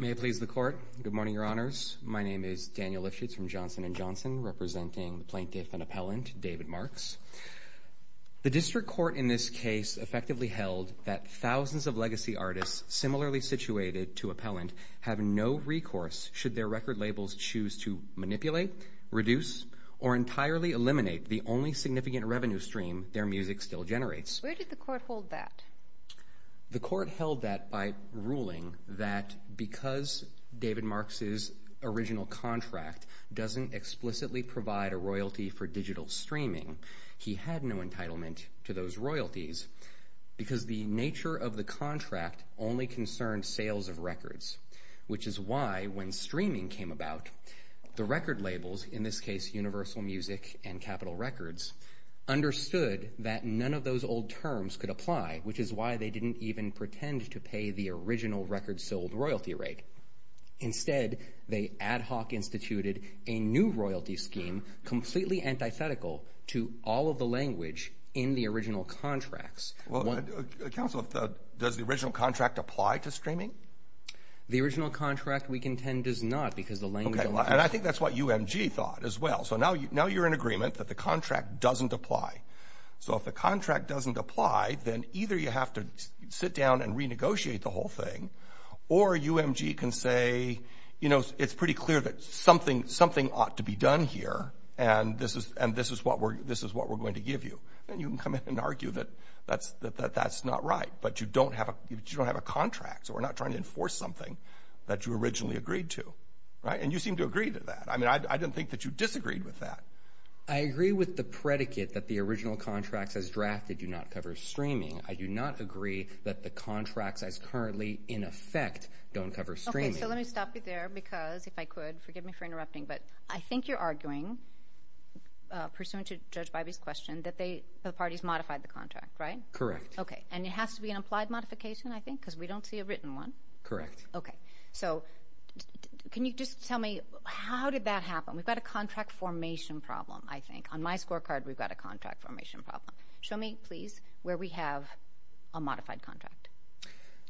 May it please the Court. Good morning, Your Honors. My name is Daniel Lifshitz from Johnson & Johnson, representing the plaintiff and appellant, David Marks. The District Court in this case effectively held that thousands of legacy artists similarly situated to appellant have no recourse should their record labels choose to manipulate, reduce, or entirely eliminate the only significant revenue stream their music still generates. Where did the court hold that? The court held that by ruling that because David Marks's original contract doesn't explicitly provide a royalty for digital streaming, he had no entitlement to those royalties because the nature of the contract only concerned sales of records, which is why when streaming came about, the record labels, in this case Universal Music and Capitol Records, understood that none of those old terms could apply, which is why they didn't even pretend to pay the original record sold royalty rate. Instead, they ad hoc instituted a new royalty scheme completely antithetical to all of the language in the original contracts. Well, counsel, does the original contract apply to streaming? The original contract, we contend, does not because the language... And I think that's what UMG thought as well. So now you're in agreement that the contract doesn't apply. So if the contract doesn't apply, then either you have to sit down and renegotiate the whole thing, or UMG can say, you know, it's pretty clear that something ought to be done here, and this is what we're going to give you. And you can come in and argue that that's not right, but you don't have a contract, so we're not trying to enforce something that you originally agreed to, right? And you seem to agree to that. I mean, I didn't think that you disagreed with that. I agree with the predicate that the original contracts has drafted do not cover streaming. I do not agree that the contracts as currently in effect don't cover streaming. Okay, so let me stop you there because, if I could, forgive me for interrupting, but I think you're arguing, pursuant to Judge Bybee's question, that the parties modified the contract, right? Correct. Okay, and it has to be an applied modification, I think, because we don't see a written one. Correct. Okay, so can you just tell me how did that happen? We've got a contract formation problem, I think. On my scorecard, we've got a contract formation problem. Show me, please, where we have a modified contract.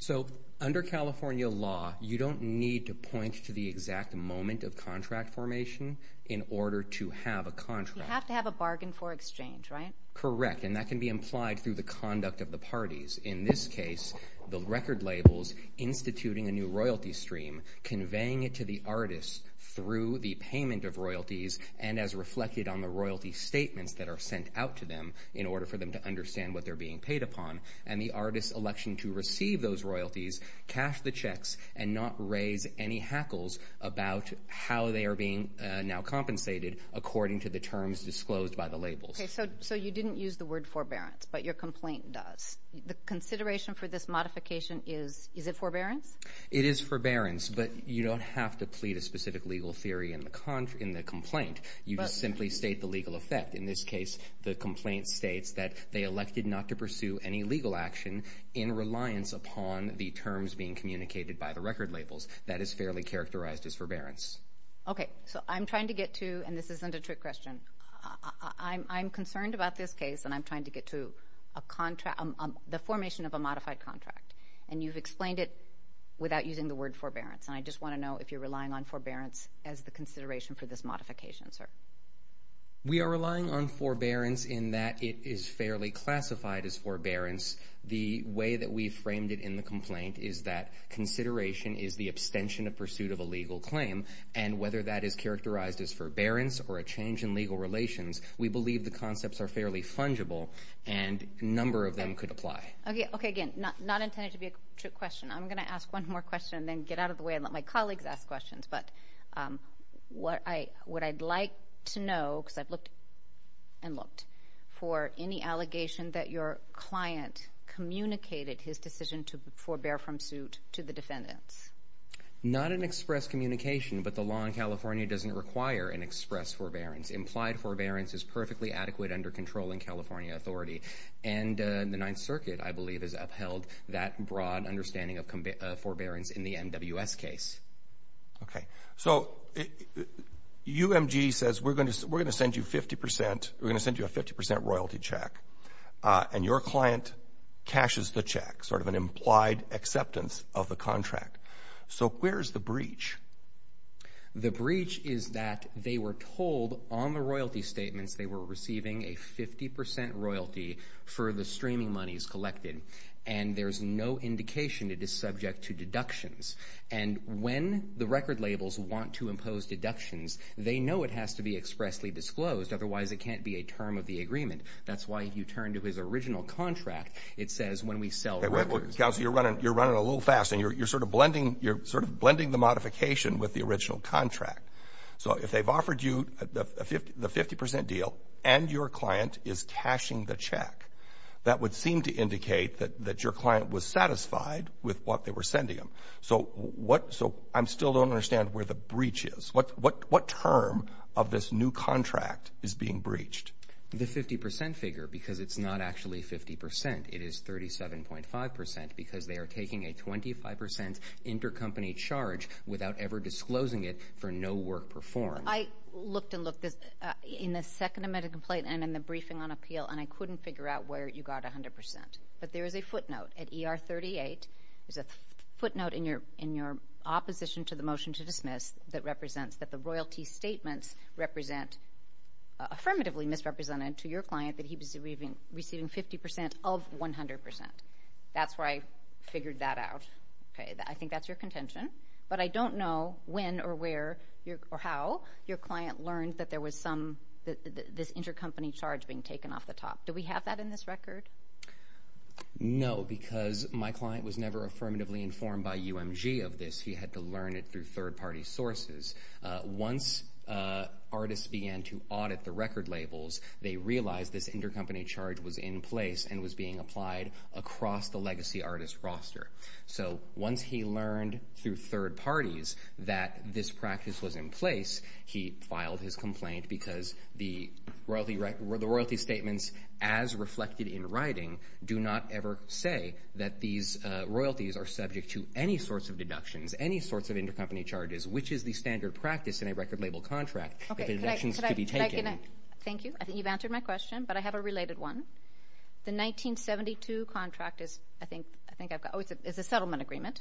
So, under California law, you don't need to point to the exact moment of contract formation in order to have a contract. You have to have a bargain for exchange, right? Correct, and that can be implied through the conduct of the parties. In this case, the record labels instituting a new royalty stream, conveying it to the artists through the payment of royalties, and as reflected on the royalty statements that are sent out to them in order for them to understand what they're being paid upon, and the artists' election to receive those royalties cash the checks and not raise any hackles about how they are being now compensated according to the terms disclosed by the labels. Okay, so you didn't use the word forbearance, but your complaint does. The consideration for this modification is, is it forbearance? It is forbearance, but you don't have to plead a specific legal theory in the complaint. You simply state the legal effect. In this case, the complaint states that they elected not to pursue any legal action in reliance upon the terms being communicated by the record labels. That is fairly characterized as forbearance. Okay, so I'm trying to get to, and this isn't a trick question, I'm concerned about this case, and I'm trying to get to a contract, the formation of a modified contract, and you've explained it without using the word forbearance, and I just want to know if you're relying on forbearance as the consideration for this modification, sir. We are relying on forbearance in that it is fairly classified as forbearance. The way that we framed it in the complaint is that consideration is the abstention of pursuit of a legal claim, and whether that is characterized as forbearance or a change in legal relations, we believe the concepts are fairly fungible, and a number of them could apply. Okay, again, not intended to be a trick question. I'm gonna ask one more question and then get out of the way and let my colleagues ask questions, but what I'd like to know, because I've looked and looked, for any allegation that your client communicated his decision to forbear from suit to the defendants. Not an express communication, but the law in California doesn't require an express forbearance. Implied forbearance is perfectly adequate under controlling California authority, and the Ninth Circuit, I believe, has upheld that broad understanding of forbearance in the MWS case. Okay, so UMG says, we're gonna send you 50%, we're gonna send you a 50% royalty check, and your client cashes the check, sort of an implied acceptance of the contract. So where's the breach? The breach is that they were told on the royalty statements they were receiving a 50% royalty for the streaming monies collected, and there's no indication it is subject to deductions. And when the record labels want to impose deductions, they know it has to be expressly disclosed, otherwise it can't be a term of the agreement. That's why if you turn to his original contract, it says when we sell records... Counsel, you're running, you're running a little fast, and you're sort of blending, you're sort of blending the modification with the original contract. So if they've offered you the 50% deal, and your client is cashing the check, that would seem to indicate that your client was satisfied with what they were receiving. So I still don't understand where the breach is. What term of this new contract is being breached? The 50% figure, because it's not actually 50%. It is 37.5% because they are taking a 25% intercompany charge without ever disclosing it for no work performed. I looked and looked in the second amendment complaint and in the briefing on appeal, and I couldn't figure out where you got 100%. But there is a footnote at ER 38, there's a footnote in your opposition to the motion to dismiss that represents that the royalty statements represent affirmatively misrepresented to your client that he was receiving receiving 50% of 100%. That's where I figured that out. Okay, I think that's your contention. But I don't know when or where or how your client learned that there was some, this intercompany charge being taken off the top. Do we have that in this record? No, because my client was never affirmatively informed by UMG of this. He had to learn it through third-party sources. Once artists began to audit the record labels, they realized this intercompany charge was in place and was being applied across the legacy artist roster. So once he learned through third parties that this practice was in place, he filed his complaint because the royalty statements as subject to any sorts of deductions, any sorts of intercompany charges, which is the standard practice in a record label contract. Okay, thank you. I think you've answered my question, but I have a related one. The 1972 contract is, I think, I think I've got, oh, it's a settlement agreement.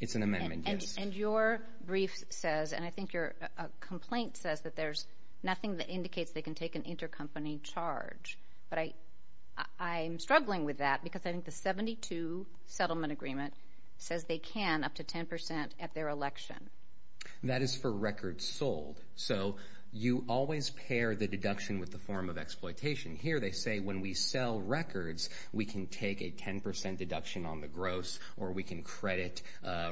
It's an amendment. And your brief says, and I think your complaint says that there's nothing that indicates they can take an intercompany charge. But I I'm struggling with that because I think the 1972 settlement agreement says they can up to 10% at their election. That is for records sold. So you always pair the deduction with the form of exploitation. Here they say when we sell records, we can take a 10% deduction on the gross, or we can credit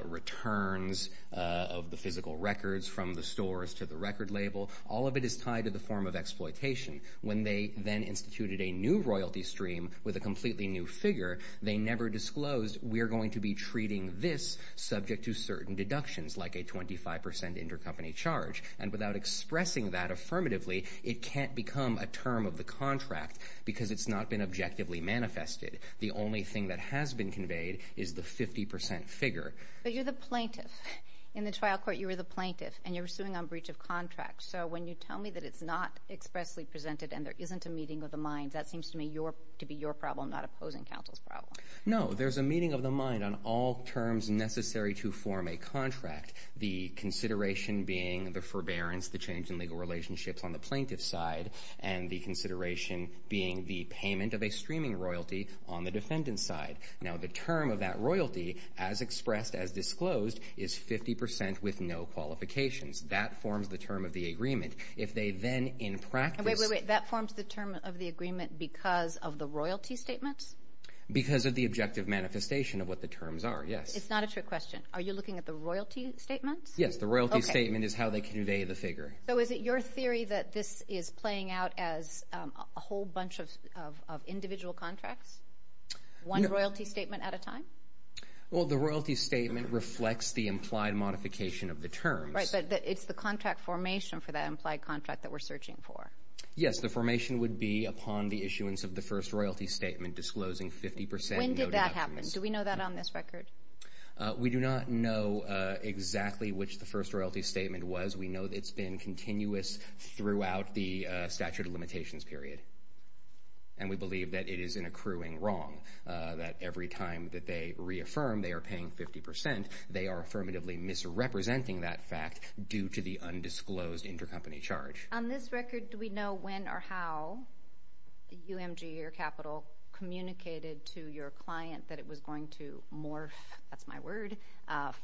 returns of the physical records from the stores to the record label. All of it is tied to the form of exploitation. When they then are disclosed, we're going to be treating this subject to certain deductions, like a 25% intercompany charge. And without expressing that affirmatively, it can't become a term of the contract because it's not been objectively manifested. The only thing that has been conveyed is the 50% figure. But you're the plaintiff. In the trial court, you were the plaintiff, and you're suing on breach of contract. So when you tell me that it's not expressly presented and there isn't a meeting of the minds, that seems to me to be your problem, not opposing counsel's problem. No, there's a meeting of the mind on all terms necessary to form a contract. The consideration being the forbearance, the change in legal relationships on the plaintiff's side, and the consideration being the payment of a streaming royalty on the defendant's side. Now the term of that royalty, as expressed, as disclosed, is 50% with no qualifications. That forms the term of the agreement. If they then in practice... Because of the objective manifestation of what the terms are, yes. It's not a trick question. Are you looking at the royalty statements? Yes, the royalty statement is how they convey the figure. So is it your theory that this is playing out as a whole bunch of individual contracts? One royalty statement at a time? Well, the royalty statement reflects the implied modification of the terms. Right, but it's the contract formation for that implied contract that we're searching for. Yes, the formation would be upon the issuance of the first royalty statement disclosing 50% no deductions. When did that happen? Do we know that on this record? We do not know exactly which the first royalty statement was. We know that it's been continuous throughout the statute of limitations period, and we believe that it is an accruing wrong, that every time that they reaffirm they are paying 50%, they are affirmatively misrepresenting that fact due to the undisclosed intercompany charge. On this record, do we know when or how UMG, your capital, communicated to your client that it was going to morph, that's my word,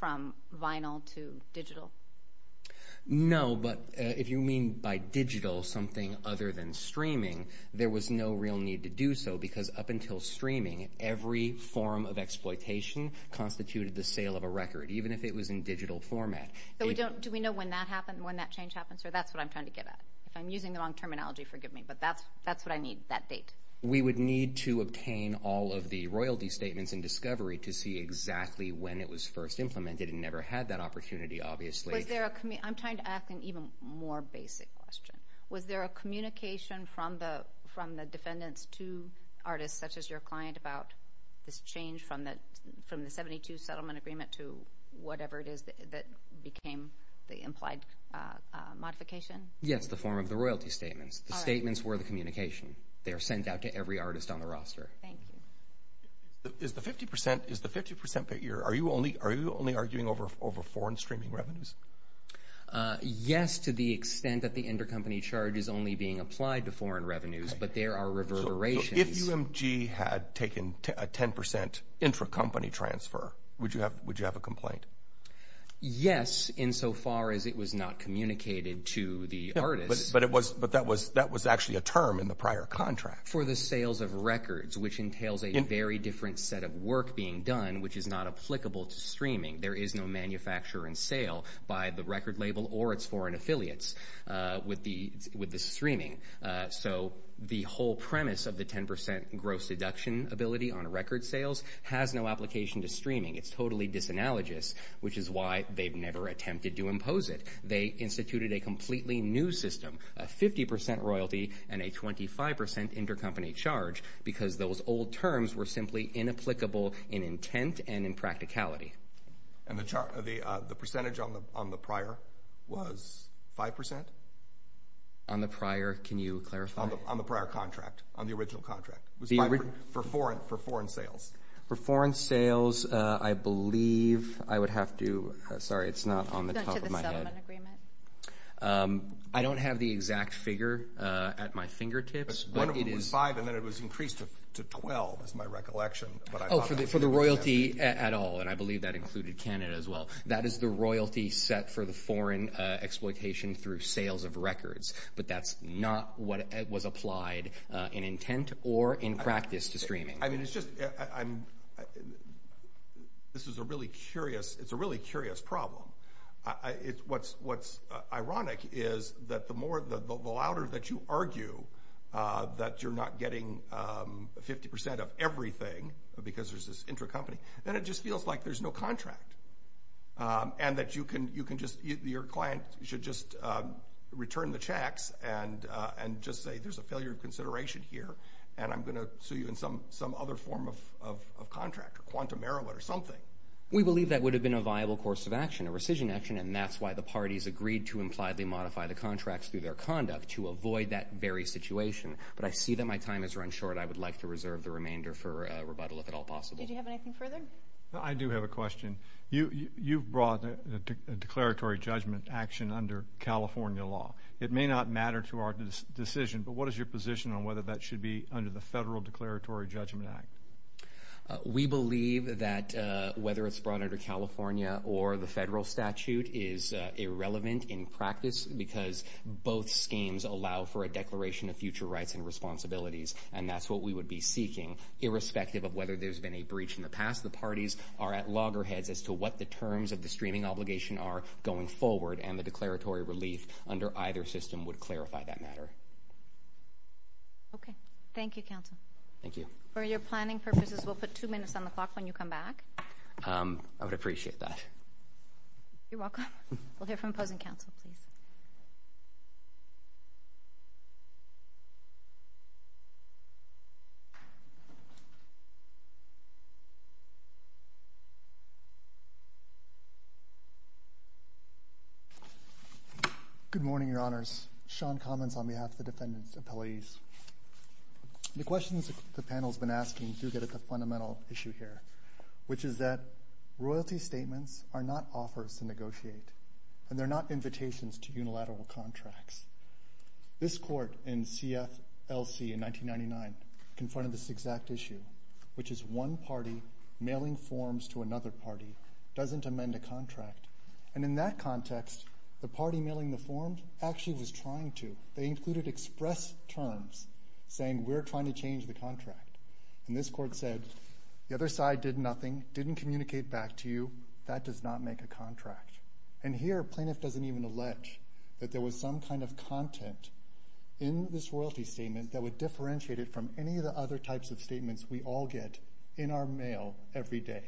from vinyl to digital? No, but if you mean by digital something other than streaming, there was no real need to do so because up until streaming, every form of exploitation constituted the sale of a record, even if it was in digital format. Do we know when that change happens? That's what I'm trying to get at. If I'm using the wrong terminology, forgive me, but that's what I need, that date. We would need to obtain all of the royalty statements in discovery to see exactly when it was first implemented. It never had that opportunity, obviously. I'm trying to ask an even more basic question. Was there a communication from the defendants to artists such as your client about this change from the 72 settlement agreement to whatever it is that became the implied modification? Yes, the form of the royalty statements. The statements were the communication. They are sent out to every artist on the roster. Thank you. Is the 50% figure, are you only arguing over foreign streaming revenues? Yes, to the extent that the intercompany charge is only being applied to foreign revenues, but there are reverberations. If UMG had taken a 10% intracompany transfer, would you have a complaint? Yes, insofar as it was not communicated to the artists. But that was actually a term in the prior contract. For the sales of records, which entails a very different set of work being done, which is not applicable to streaming. There is no manufacturer and sale by the record label or its foreign affiliates with the streaming. So the whole premise of the 10% gross deduction ability on record sales has no application to streaming. It's totally disanalogous, which is why they've never attempted to impose it. They instituted a completely new system, a 50% royalty and a 25% intercompany charge, because those old terms were simply inapplicable in intent and in practicality. And the percentage on the prior was 5%? On the prior, can you clarify? On the prior contract, on the original contract. For foreign sales. For foreign sales, I believe I would have to, sorry it's not on the top of my head. I don't have the exact figure at my fingertips. It was 5% and then it was increased to 12% is my recollection. Oh, for the royalty at all, and I believe that included Canada as well. That is the royalty set for the foreign exploitation through sales of records, but that's not what was applied in intent or in practice to streaming. I mean, it's just, I'm, this is a really curious, it's a really curious problem. It's, what's ironic is that the more, the louder that you argue that you're not getting 50% of everything because there's this intercompany, then it just feels like there's no contract. And that you can, you can just, your client should just return the checks and just say there's a failure of consideration here, and I'm going to sue you in some other form of contract, or quantum arrow, or something. We believe that would have been a viable course of action, a rescission action, and that's why the parties agreed to impliedly modify the contracts through their conduct, to avoid that very situation. But I see that my time has run short. I would like to reserve the remainder for rebuttal if at all possible. Did you have anything further? I do have a question. You've brought a declaratory judgment action under California law. It may not matter to our decision, but what is your position on whether that should be under the Federal Declaratory Judgment Act? We believe that whether it's brought under California or the federal statute is irrelevant in practice because both schemes allow for a declaration of future rights and responsibilities, and that's what we would be seeking, irrespective of whether there's been a breach in the past. The parties are at loggerheads as to what the terms of the streaming obligation are going forward, and the declaratory relief under either system would clarify that matter. Okay. Thank you, counsel. Thank you. For your planning purposes, we'll put two minutes on the clock when you come back. I would appreciate that. You're welcome. We'll hear from opposing counsel, please. Good morning, Your Honors. Sean Commons on behalf of the defendant's appellees. The questions the panel's been asking do get at the fundamental issue here, which is that royalty statements are not offers to negotiate, and they're not invitations to unilateral contracts. This court in CFLC in 1999 confronted this exact issue, which is one party mailing forms to another party doesn't amend a contract, and in that context the party mailing the forms actually was trying to. They included express terms saying we're trying to change the contract, and this court said the other side did nothing, didn't communicate back to you. That does not make a contract, and here plaintiff doesn't even allege that there was some kind of content in this royalty statement that would differentiate it from any of the other types of statements we all get in our mail every day.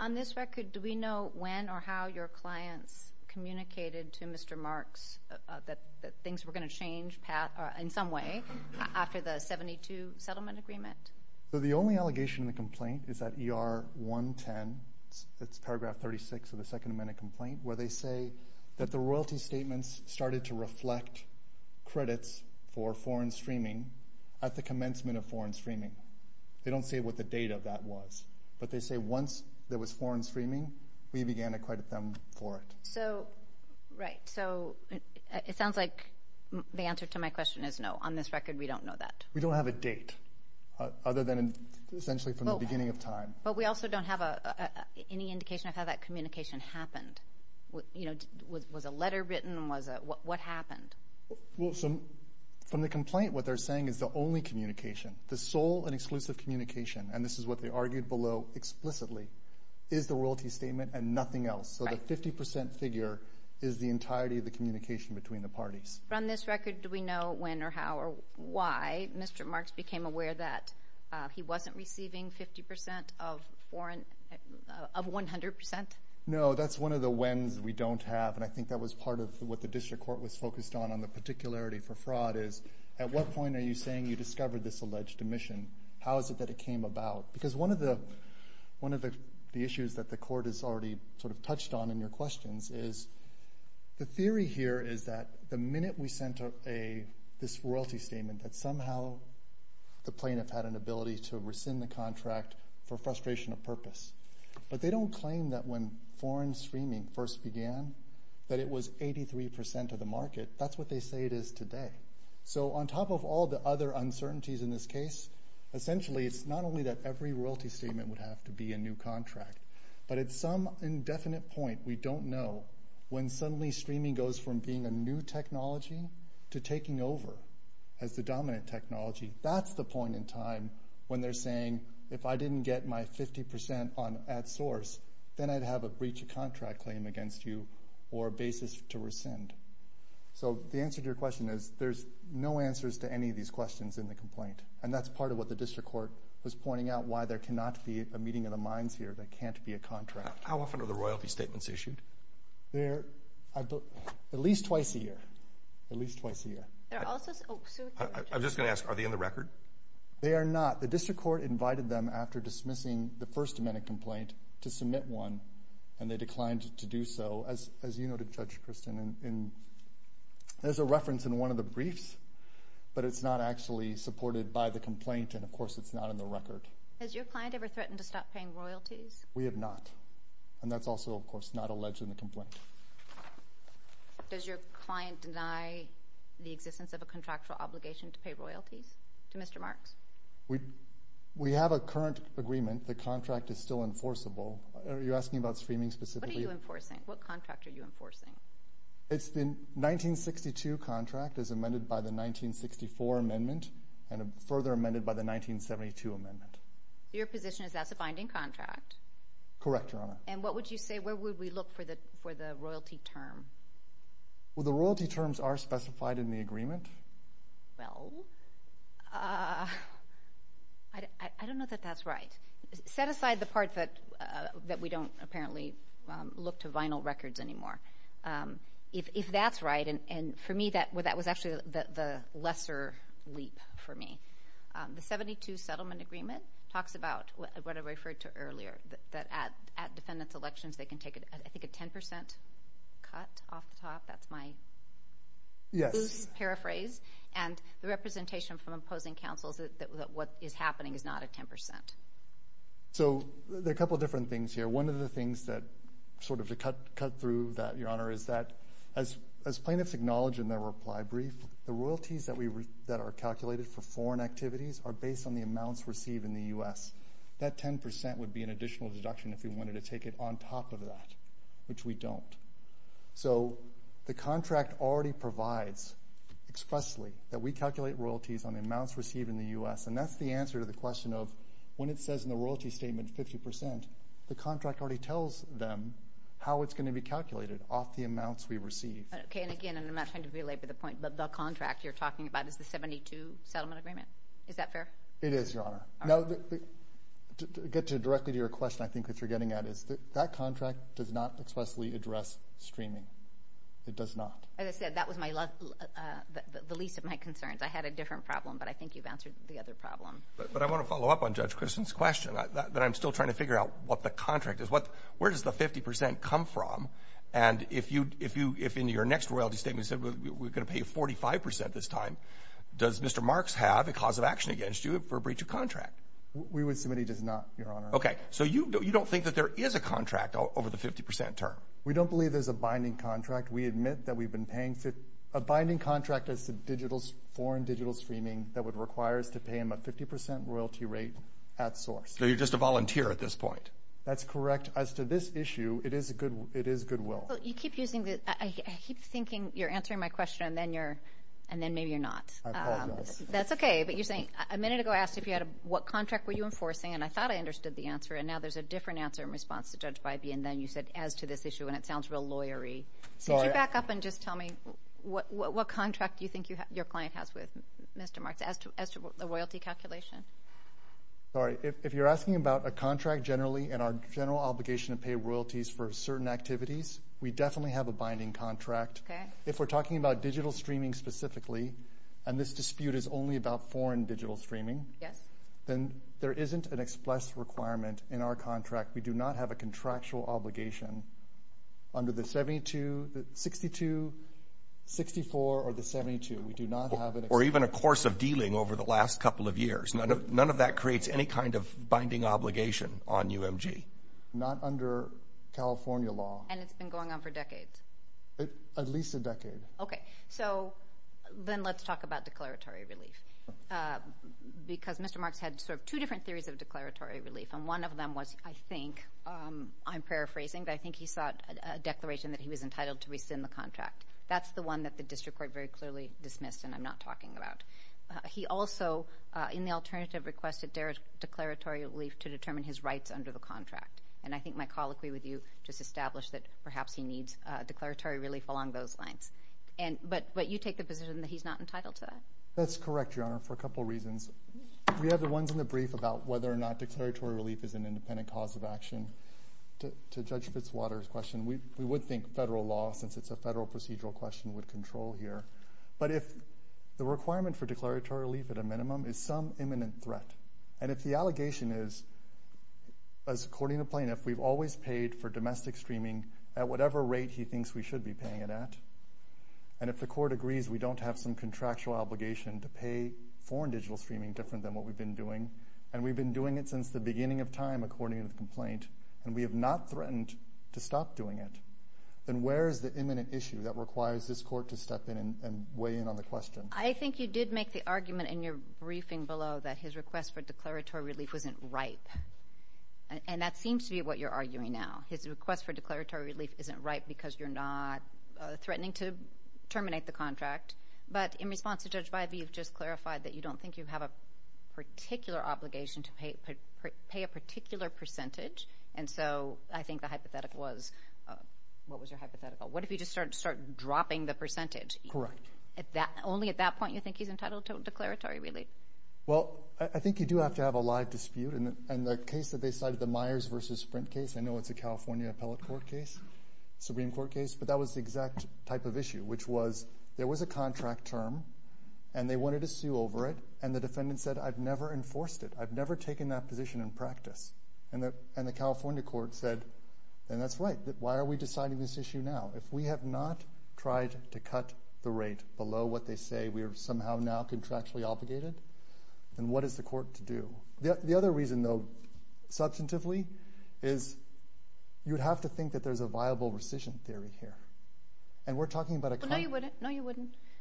On this record, do we know when or how your clients communicated to Mr. Marks that things were going to change in some way after the 72 settlement agreement? The only allegation in the complaint is that ER 110, it's paragraph 36 of the Second Amendment complaint, where they say that the royalty statements started to reflect credits for foreign streaming at the commencement of foreign streaming. They don't say what the date of that was, but they say once there was foreign streaming, we began to credit them for it. So, right, so it sounds like the answer to my question is no. On this record, we don't know that. We don't have a date other than essentially from the time. But we also don't have any indication of how that communication happened. You know, was a letter written? What happened? Well, so from the complaint, what they're saying is the only communication, the sole and exclusive communication, and this is what they argued below explicitly, is the royalty statement and nothing else. So the 50% figure is the entirety of the communication between the parties. On this record, do we know when or how or why Mr. Marks became aware that he wasn't receiving 50% of foreign, of 100%? No, that's one of the whens we don't have, and I think that was part of what the district court was focused on, on the particularity for fraud is, at what point are you saying you discovered this alleged omission? How is it that it came about? Because one of the issues that the court has already sort of touched on in your questions is, the theory here is that the minute we sent this royalty statement, that somehow the plaintiff had an ability to rescind the contract for frustration of purpose. But they don't claim that when foreign streaming first began, that it was 83% of the market. That's what they say it is today. So on top of all the other uncertainties in this case, essentially it's not only that every royalty statement would have to be a new contract, but at some indefinite point, we don't know, when suddenly streaming goes from being a new technology to taking over as the dominant technology. That's the point in time when they're saying, if I didn't get my 50% on at source, then I'd have a breach of contract claim against you, or a basis to rescind. So the answer to your question is, there's no answers to any of these questions in the complaint. And that's part of what the district court was pointing out, why there cannot be a meeting of the minds here, there can't be a contract. How often are the royalty statements issued? There, at least twice a year, at least twice a year. I'm just gonna ask, are they in the record? They are not. The district court invited them after dismissing the First Amendment complaint to submit one, and they declined to do so. As you noted, Judge Kristen, and there's a reference in one of the briefs, but it's not actually supported by the complaint, and of course it's not in the record. Has your client ever threatened to stop paying royalties? We have not. And that's also, of course, not alleged in the complaint. Does your client deny the existence of a contractual obligation to pay royalties to Mr. Marks? We have a current agreement, the contract is still enforceable. Are you asking about streaming specifically? What are you enforcing? What contract are you enforcing? It's the 1962 contract, as amended by the 1964 amendment, and further amended by the 1972 amendment. Your position is that's a contract? Correct, Your Honor. And what would you say, where would we look for the for the royalty term? Well, the royalty terms are specified in the agreement. Well, I don't know that that's right. Set aside the part that that we don't apparently look to vinyl records anymore. If that's right, and for me that that was actually the lesser leap for me. The 72 settlement agreement talks about, what I referred to earlier, that at defendants elections they can take I think a 10% cut off the top, that's my paraphrase, and the representation from opposing counsels that what is happening is not a 10%. So there are a couple different things here. One of the things that sort of to cut through that, Your Honor, is that as plaintiffs acknowledge in their reply brief, the royalties that are calculated for foreign activities are based on the amounts received in the U.S. That 10% would be an additional deduction if we wanted to take it on top of that, which we don't. So the contract already provides expressly that we calculate royalties on the amounts received in the U.S., and that's the answer to the question of when it says in the royalty statement 50%, the contract already tells them how it's going to be calculated off the amounts we receive. Okay, and again, and I'm not trying to belabor the point, but the contract you're talking about is the 72 settlement agreement. Is that fair? It is, Your Honor. Now, to get directly to your question, I think that you're getting at is that that contract does not expressly address streaming. It does not. As I said, that was the least of my concerns. I had a different problem, but I think you've answered the other problem. But I want to follow up on Judge Christen's question, that I'm still trying to figure out what the contract is. Where does the 50% come from? And if you, if in your next royalty statement said we're gonna pay 45% this time, does Mr. Marks have a cause of action against you for a breach of contract? We would submit he does not, Your Honor. Okay, so you don't think that there is a contract over the 50% term? We don't believe there's a binding contract. We admit that we've been paying a binding contract as to foreign digital streaming that would require us to pay him a 50% royalty rate at source. So you're just a volunteer at this point? That's correct. As to this issue, it is goodwill. You keep using the, I keep thinking you're a lawyer, and then maybe you're not. I apologize. That's okay, but you're saying, a minute ago I asked if you had a, what contract were you enforcing, and I thought I understood the answer, and now there's a different answer in response to Judge Bybee, and then you said, as to this issue, and it sounds real lawyer-y. So could you back up and just tell me what contract do you think your client has with Mr. Marks, as to the royalty calculation? Sorry, if you're asking about a contract generally, and our general obligation to pay royalties for certain activities, we definitely have a binding contract. Okay. If we're talking about digital streaming specifically, and this dispute is only about foreign digital streaming, then there isn't an express requirement in our contract. We do not have a contractual obligation under the 72, the 62, 64, or the 72. We do not have it. Or even a course of dealing over the last couple of years. None of that creates any kind of binding obligation on UMG. Not under California law. And it's been going on for decades? At least a decade. So then let's talk about declaratory relief. Because Mr. Marks had sort of two different theories of declaratory relief, and one of them was, I think, I'm paraphrasing, but I think he sought a declaration that he was entitled to rescind the contract. That's the one that the district court very clearly dismissed, and I'm not talking about. He also, in the alternative, requested declaratory relief to determine his rights under the contract. And I think my colloquy with you just established that perhaps he needs declaratory relief along those lines. But you take the position that he's not entitled to that? That's correct, Your Honor, for a couple reasons. We have the ones in the brief about whether or not declaratory relief is an independent cause of action. To Judge Fitzwater's question, we would think federal law, since it's a federal procedural question, would control here. But if the requirement for declaratory relief at a minimum is some imminent threat, and if the allegation is, as according to plaintiff, we've always paid for domestic streaming at whatever rate he thinks we should be paying it at, and if the court agrees we don't have some contractual obligation to pay foreign digital streaming different than what we've been doing, and we've been doing it since the beginning of time, according to the complaint, and we have not threatened to stop doing it, then where is the imminent issue that requires this court to step in and weigh in on the question? I think you did make the argument in your briefing below that his request for declaratory relief wasn't ripe, and that seems to be what you're arguing now. His request for declaratory relief isn't ripe because you're not threatening to terminate the contract, but in response to Judge Bybee, you've just clarified that you don't think you have a particular obligation to pay a particular percentage, and so I think the hypothetical was, what was your hypothetical? What if he just started dropping the percentage? Correct. Only at that point you think he's entitled to declaratory relief? Well, I think you do have to have a live dispute, and the case that they cited, the Myers v. Sprint case, I know it's a California Appellate Court case, Supreme Court case, but that was the exact type of issue, which was, there was a contract term, and they wanted to sue over it, and the defendant said, I've never enforced it. I've never taken that position in practice. And the California court said, then that's right. Why are we deciding this issue now? If we have not tried to cut the rate below what they say we are somehow now contractually obligated, then what is the court to do? The other reason, though, substantively, is you'd have to think that there's a viable rescission theory here, and we're talking about a contract. No, you wouldn't.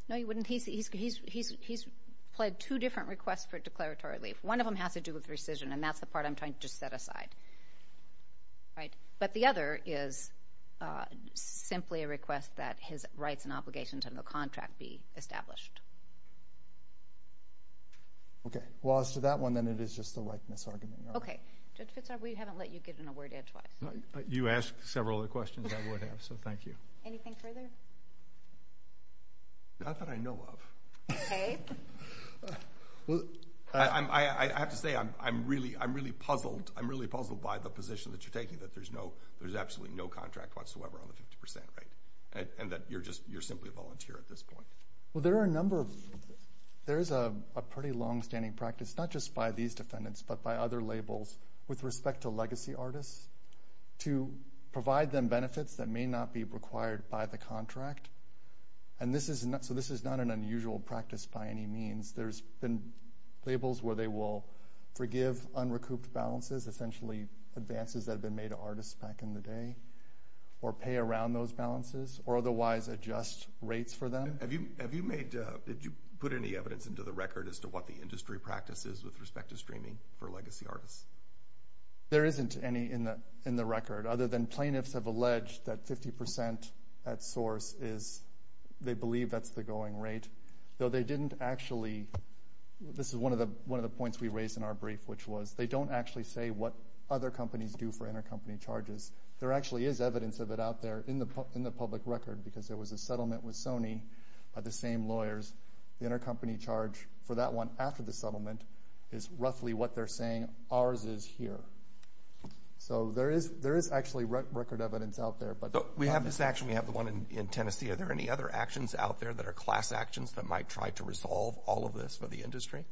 No, you wouldn't. He's pled two different requests for declaratory relief. One of them has to do with rescission, and that's the part I'm trying to just set aside. But the other is simply a request that his rights and obligations under the contract be established. Okay. Well, as to that one, then it is just a likeness argument. Okay. Judge Fitzgerald, we haven't let you get in a word in twice. You asked several of the questions I would have, so thank you. Anything further? Not that I know of. Okay. I have to say, I'm really puzzled. I'm really puzzled by the position that you're taking, that there's absolutely no contract whatsoever on the 50% rate, and that you're simply a volunteer at this point. Well, there is a pretty longstanding practice, not just by these defendants, but by other labels with respect to legacy artists, to provide them benefits that may not be required by the contract. So this is not an unusual practice by any means. There's been labels where they will forgive unrecouped balances, essentially advances that have been made to artists back in the day, or pay around those balances, or otherwise adjust rates for them. Have you made, did you put any evidence into the record as to what the industry practice is with respect to streaming for legacy artists? There isn't any in the record, other than plaintiffs have alleged that 50% at source is, they believe that's the going rate. Though they didn't actually, this is one of the points we raised in our brief, which was, they don't actually say what other companies do for intercompany charges. There actually is evidence of it out there in the public record, because there was a settlement with Sony by the same lawyers. The intercompany charge for that one after the settlement is roughly what they're saying ours is here. So there is actually record evidence out there. We have this action, we have the one in Tennessee. Are there any other actions out there that are class actions that might try to resolve all of this for the industry?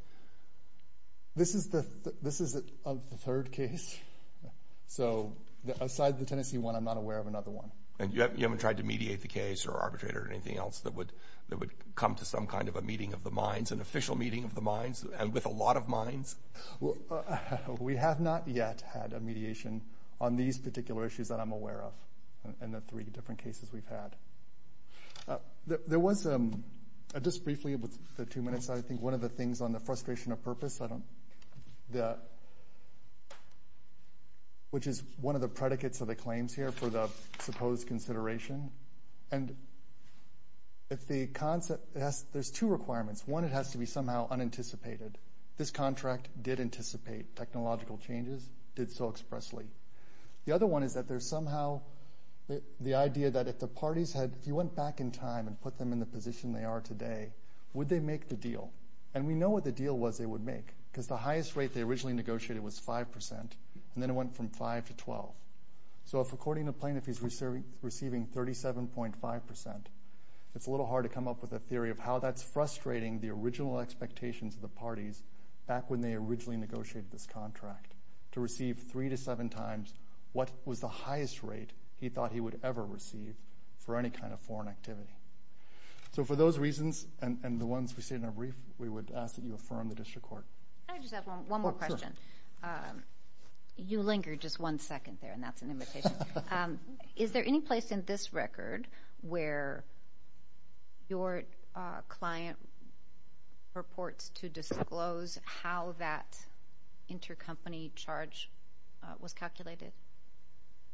This is the third case. So aside the Tennessee one, I'm not aware of another one. And you haven't tried to mediate the case or arbitrate or anything else that would come to some kind of a meeting of the minds, an official meeting of the minds, and with a lot of minds? We have not yet had a mediation on these particular issues that I'm aware of, and the three different cases we've had. There was, just briefly with the two minutes, I think one of the things on the frustration of purpose, which is one of the predicates of the claims here for the supposed consideration. And if the concept, there's two requirements. One, it has to be somehow unanticipated. This contract did anticipate technological changes, did so expressly. The other one is that there's somehow the idea that if the parties had, if you went back in time and put them in the position they are today, would they make the deal? And we know what the deal was they would make, because the highest rate they originally negotiated was 5%, and then it went from 5% to 12%. So if according to plaintiff he's receiving 37.5%, it's a little hard to come up with a theory of how that's frustrating the original expectations of the parties back when they originally negotiated this contract to receive three to seven times what was the highest rate he thought he would ever receive for any kind of foreign activity. So for those reasons, and the ones we see in our brief, we would ask that you affirm the district court. I just have one more question. You lingered just one second there, and that's an invitation. Is there any place in this record where your client purports to disclose how that intercompany charge was calculated?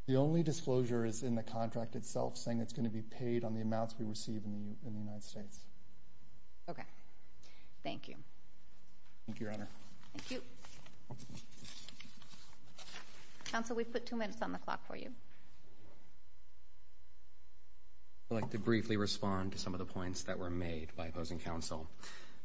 The only disclosure is in the contract itself, saying it's going to be paid on the amounts we receive in the United States. Okay. Thank you. Thank you, Your Honor. Thank you. Counsel, we've put two minutes on the clock for you. I'd like to briefly respond to some of the points that were made by opposing counsel.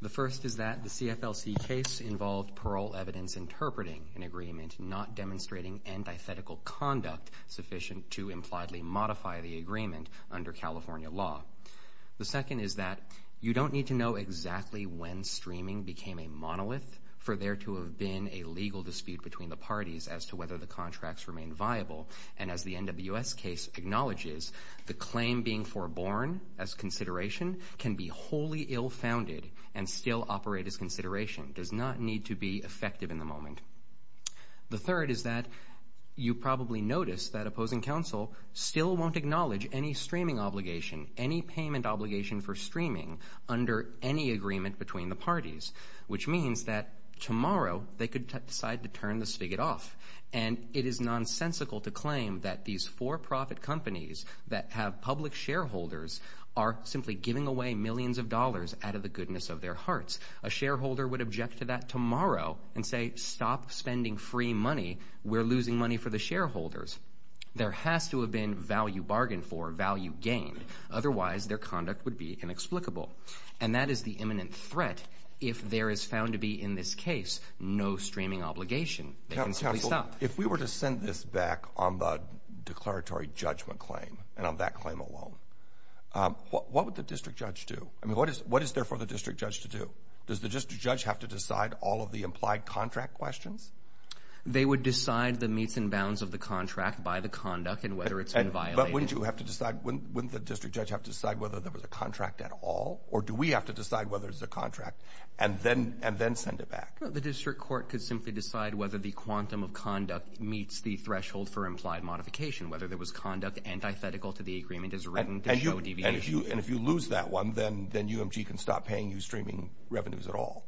The first is that the CFLC case involved parole evidence interpreting an agreement, not demonstrating antithetical conduct sufficient to impliedly modify the agreement under California law. The second is that you don't need to know exactly when streaming became a monolith for there to have been a legal dispute between the parties as to whether the contracts remained viable. And as the NWS case acknowledges, the claim being foreborn as consideration can be wholly ill-founded and still operate as consideration, does not need to be effective in the moment. The third is that you probably noticed that opposing counsel still won't acknowledge any payment obligation for streaming under any agreement between the parties, which means that tomorrow they could decide to turn the spigot off. And it is nonsensical to claim that these for-profit companies that have public shareholders are simply giving away millions of dollars out of the goodness of their hearts. A shareholder would object to that tomorrow and say, stop spending free money. We're losing money for the shareholders. There has to have been value bargained for, value gained. Otherwise, their conduct would be inexplicable. And that is the imminent threat. If there is found to be in this case no streaming obligation, they can simply stop. If we were to send this back on the declaratory judgment claim and on that claim alone, what would the district judge do? I mean, what is there for the district judge to do? Does the district judge have to decide all of the implied contract questions? They would decide the meets and bounds of the contract by the conduct and whether it's been violated. But wouldn't you have to decide, wouldn't the district judge have to decide whether there was a contract at all? Or do we have to decide whether it's a contract and then send it back? The district court could simply decide whether the quantum of conduct meets the threshold for implied modification, whether there was conduct antithetical to the agreement as written to show deviation. And if you lose that one, then UMG can stop paying you streaming revenues at all.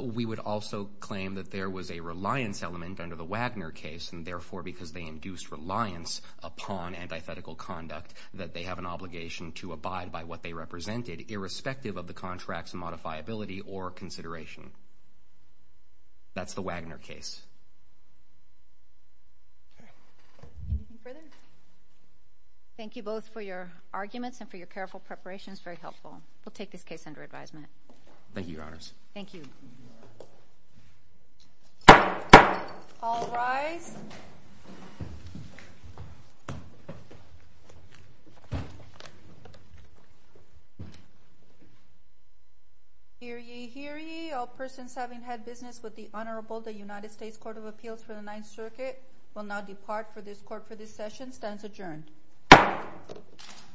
We would also claim that there was a reliance element under the Wagner case, and therefore because they induced reliance upon antithetical conduct, that they have an obligation to abide by what they represented, irrespective of the contract's modifiability or consideration. That's the Wagner case. Anything further? Thank you both for your arguments and for your careful preparations. Very helpful. We'll take this case under advisement. Thank you, Your Honors. Thank you. All rise. Hear ye, hear ye. All persons having had business with the Honorable, the United States Court of Appeals for the Ninth Circuit, will now depart for this session. Stands adjourned.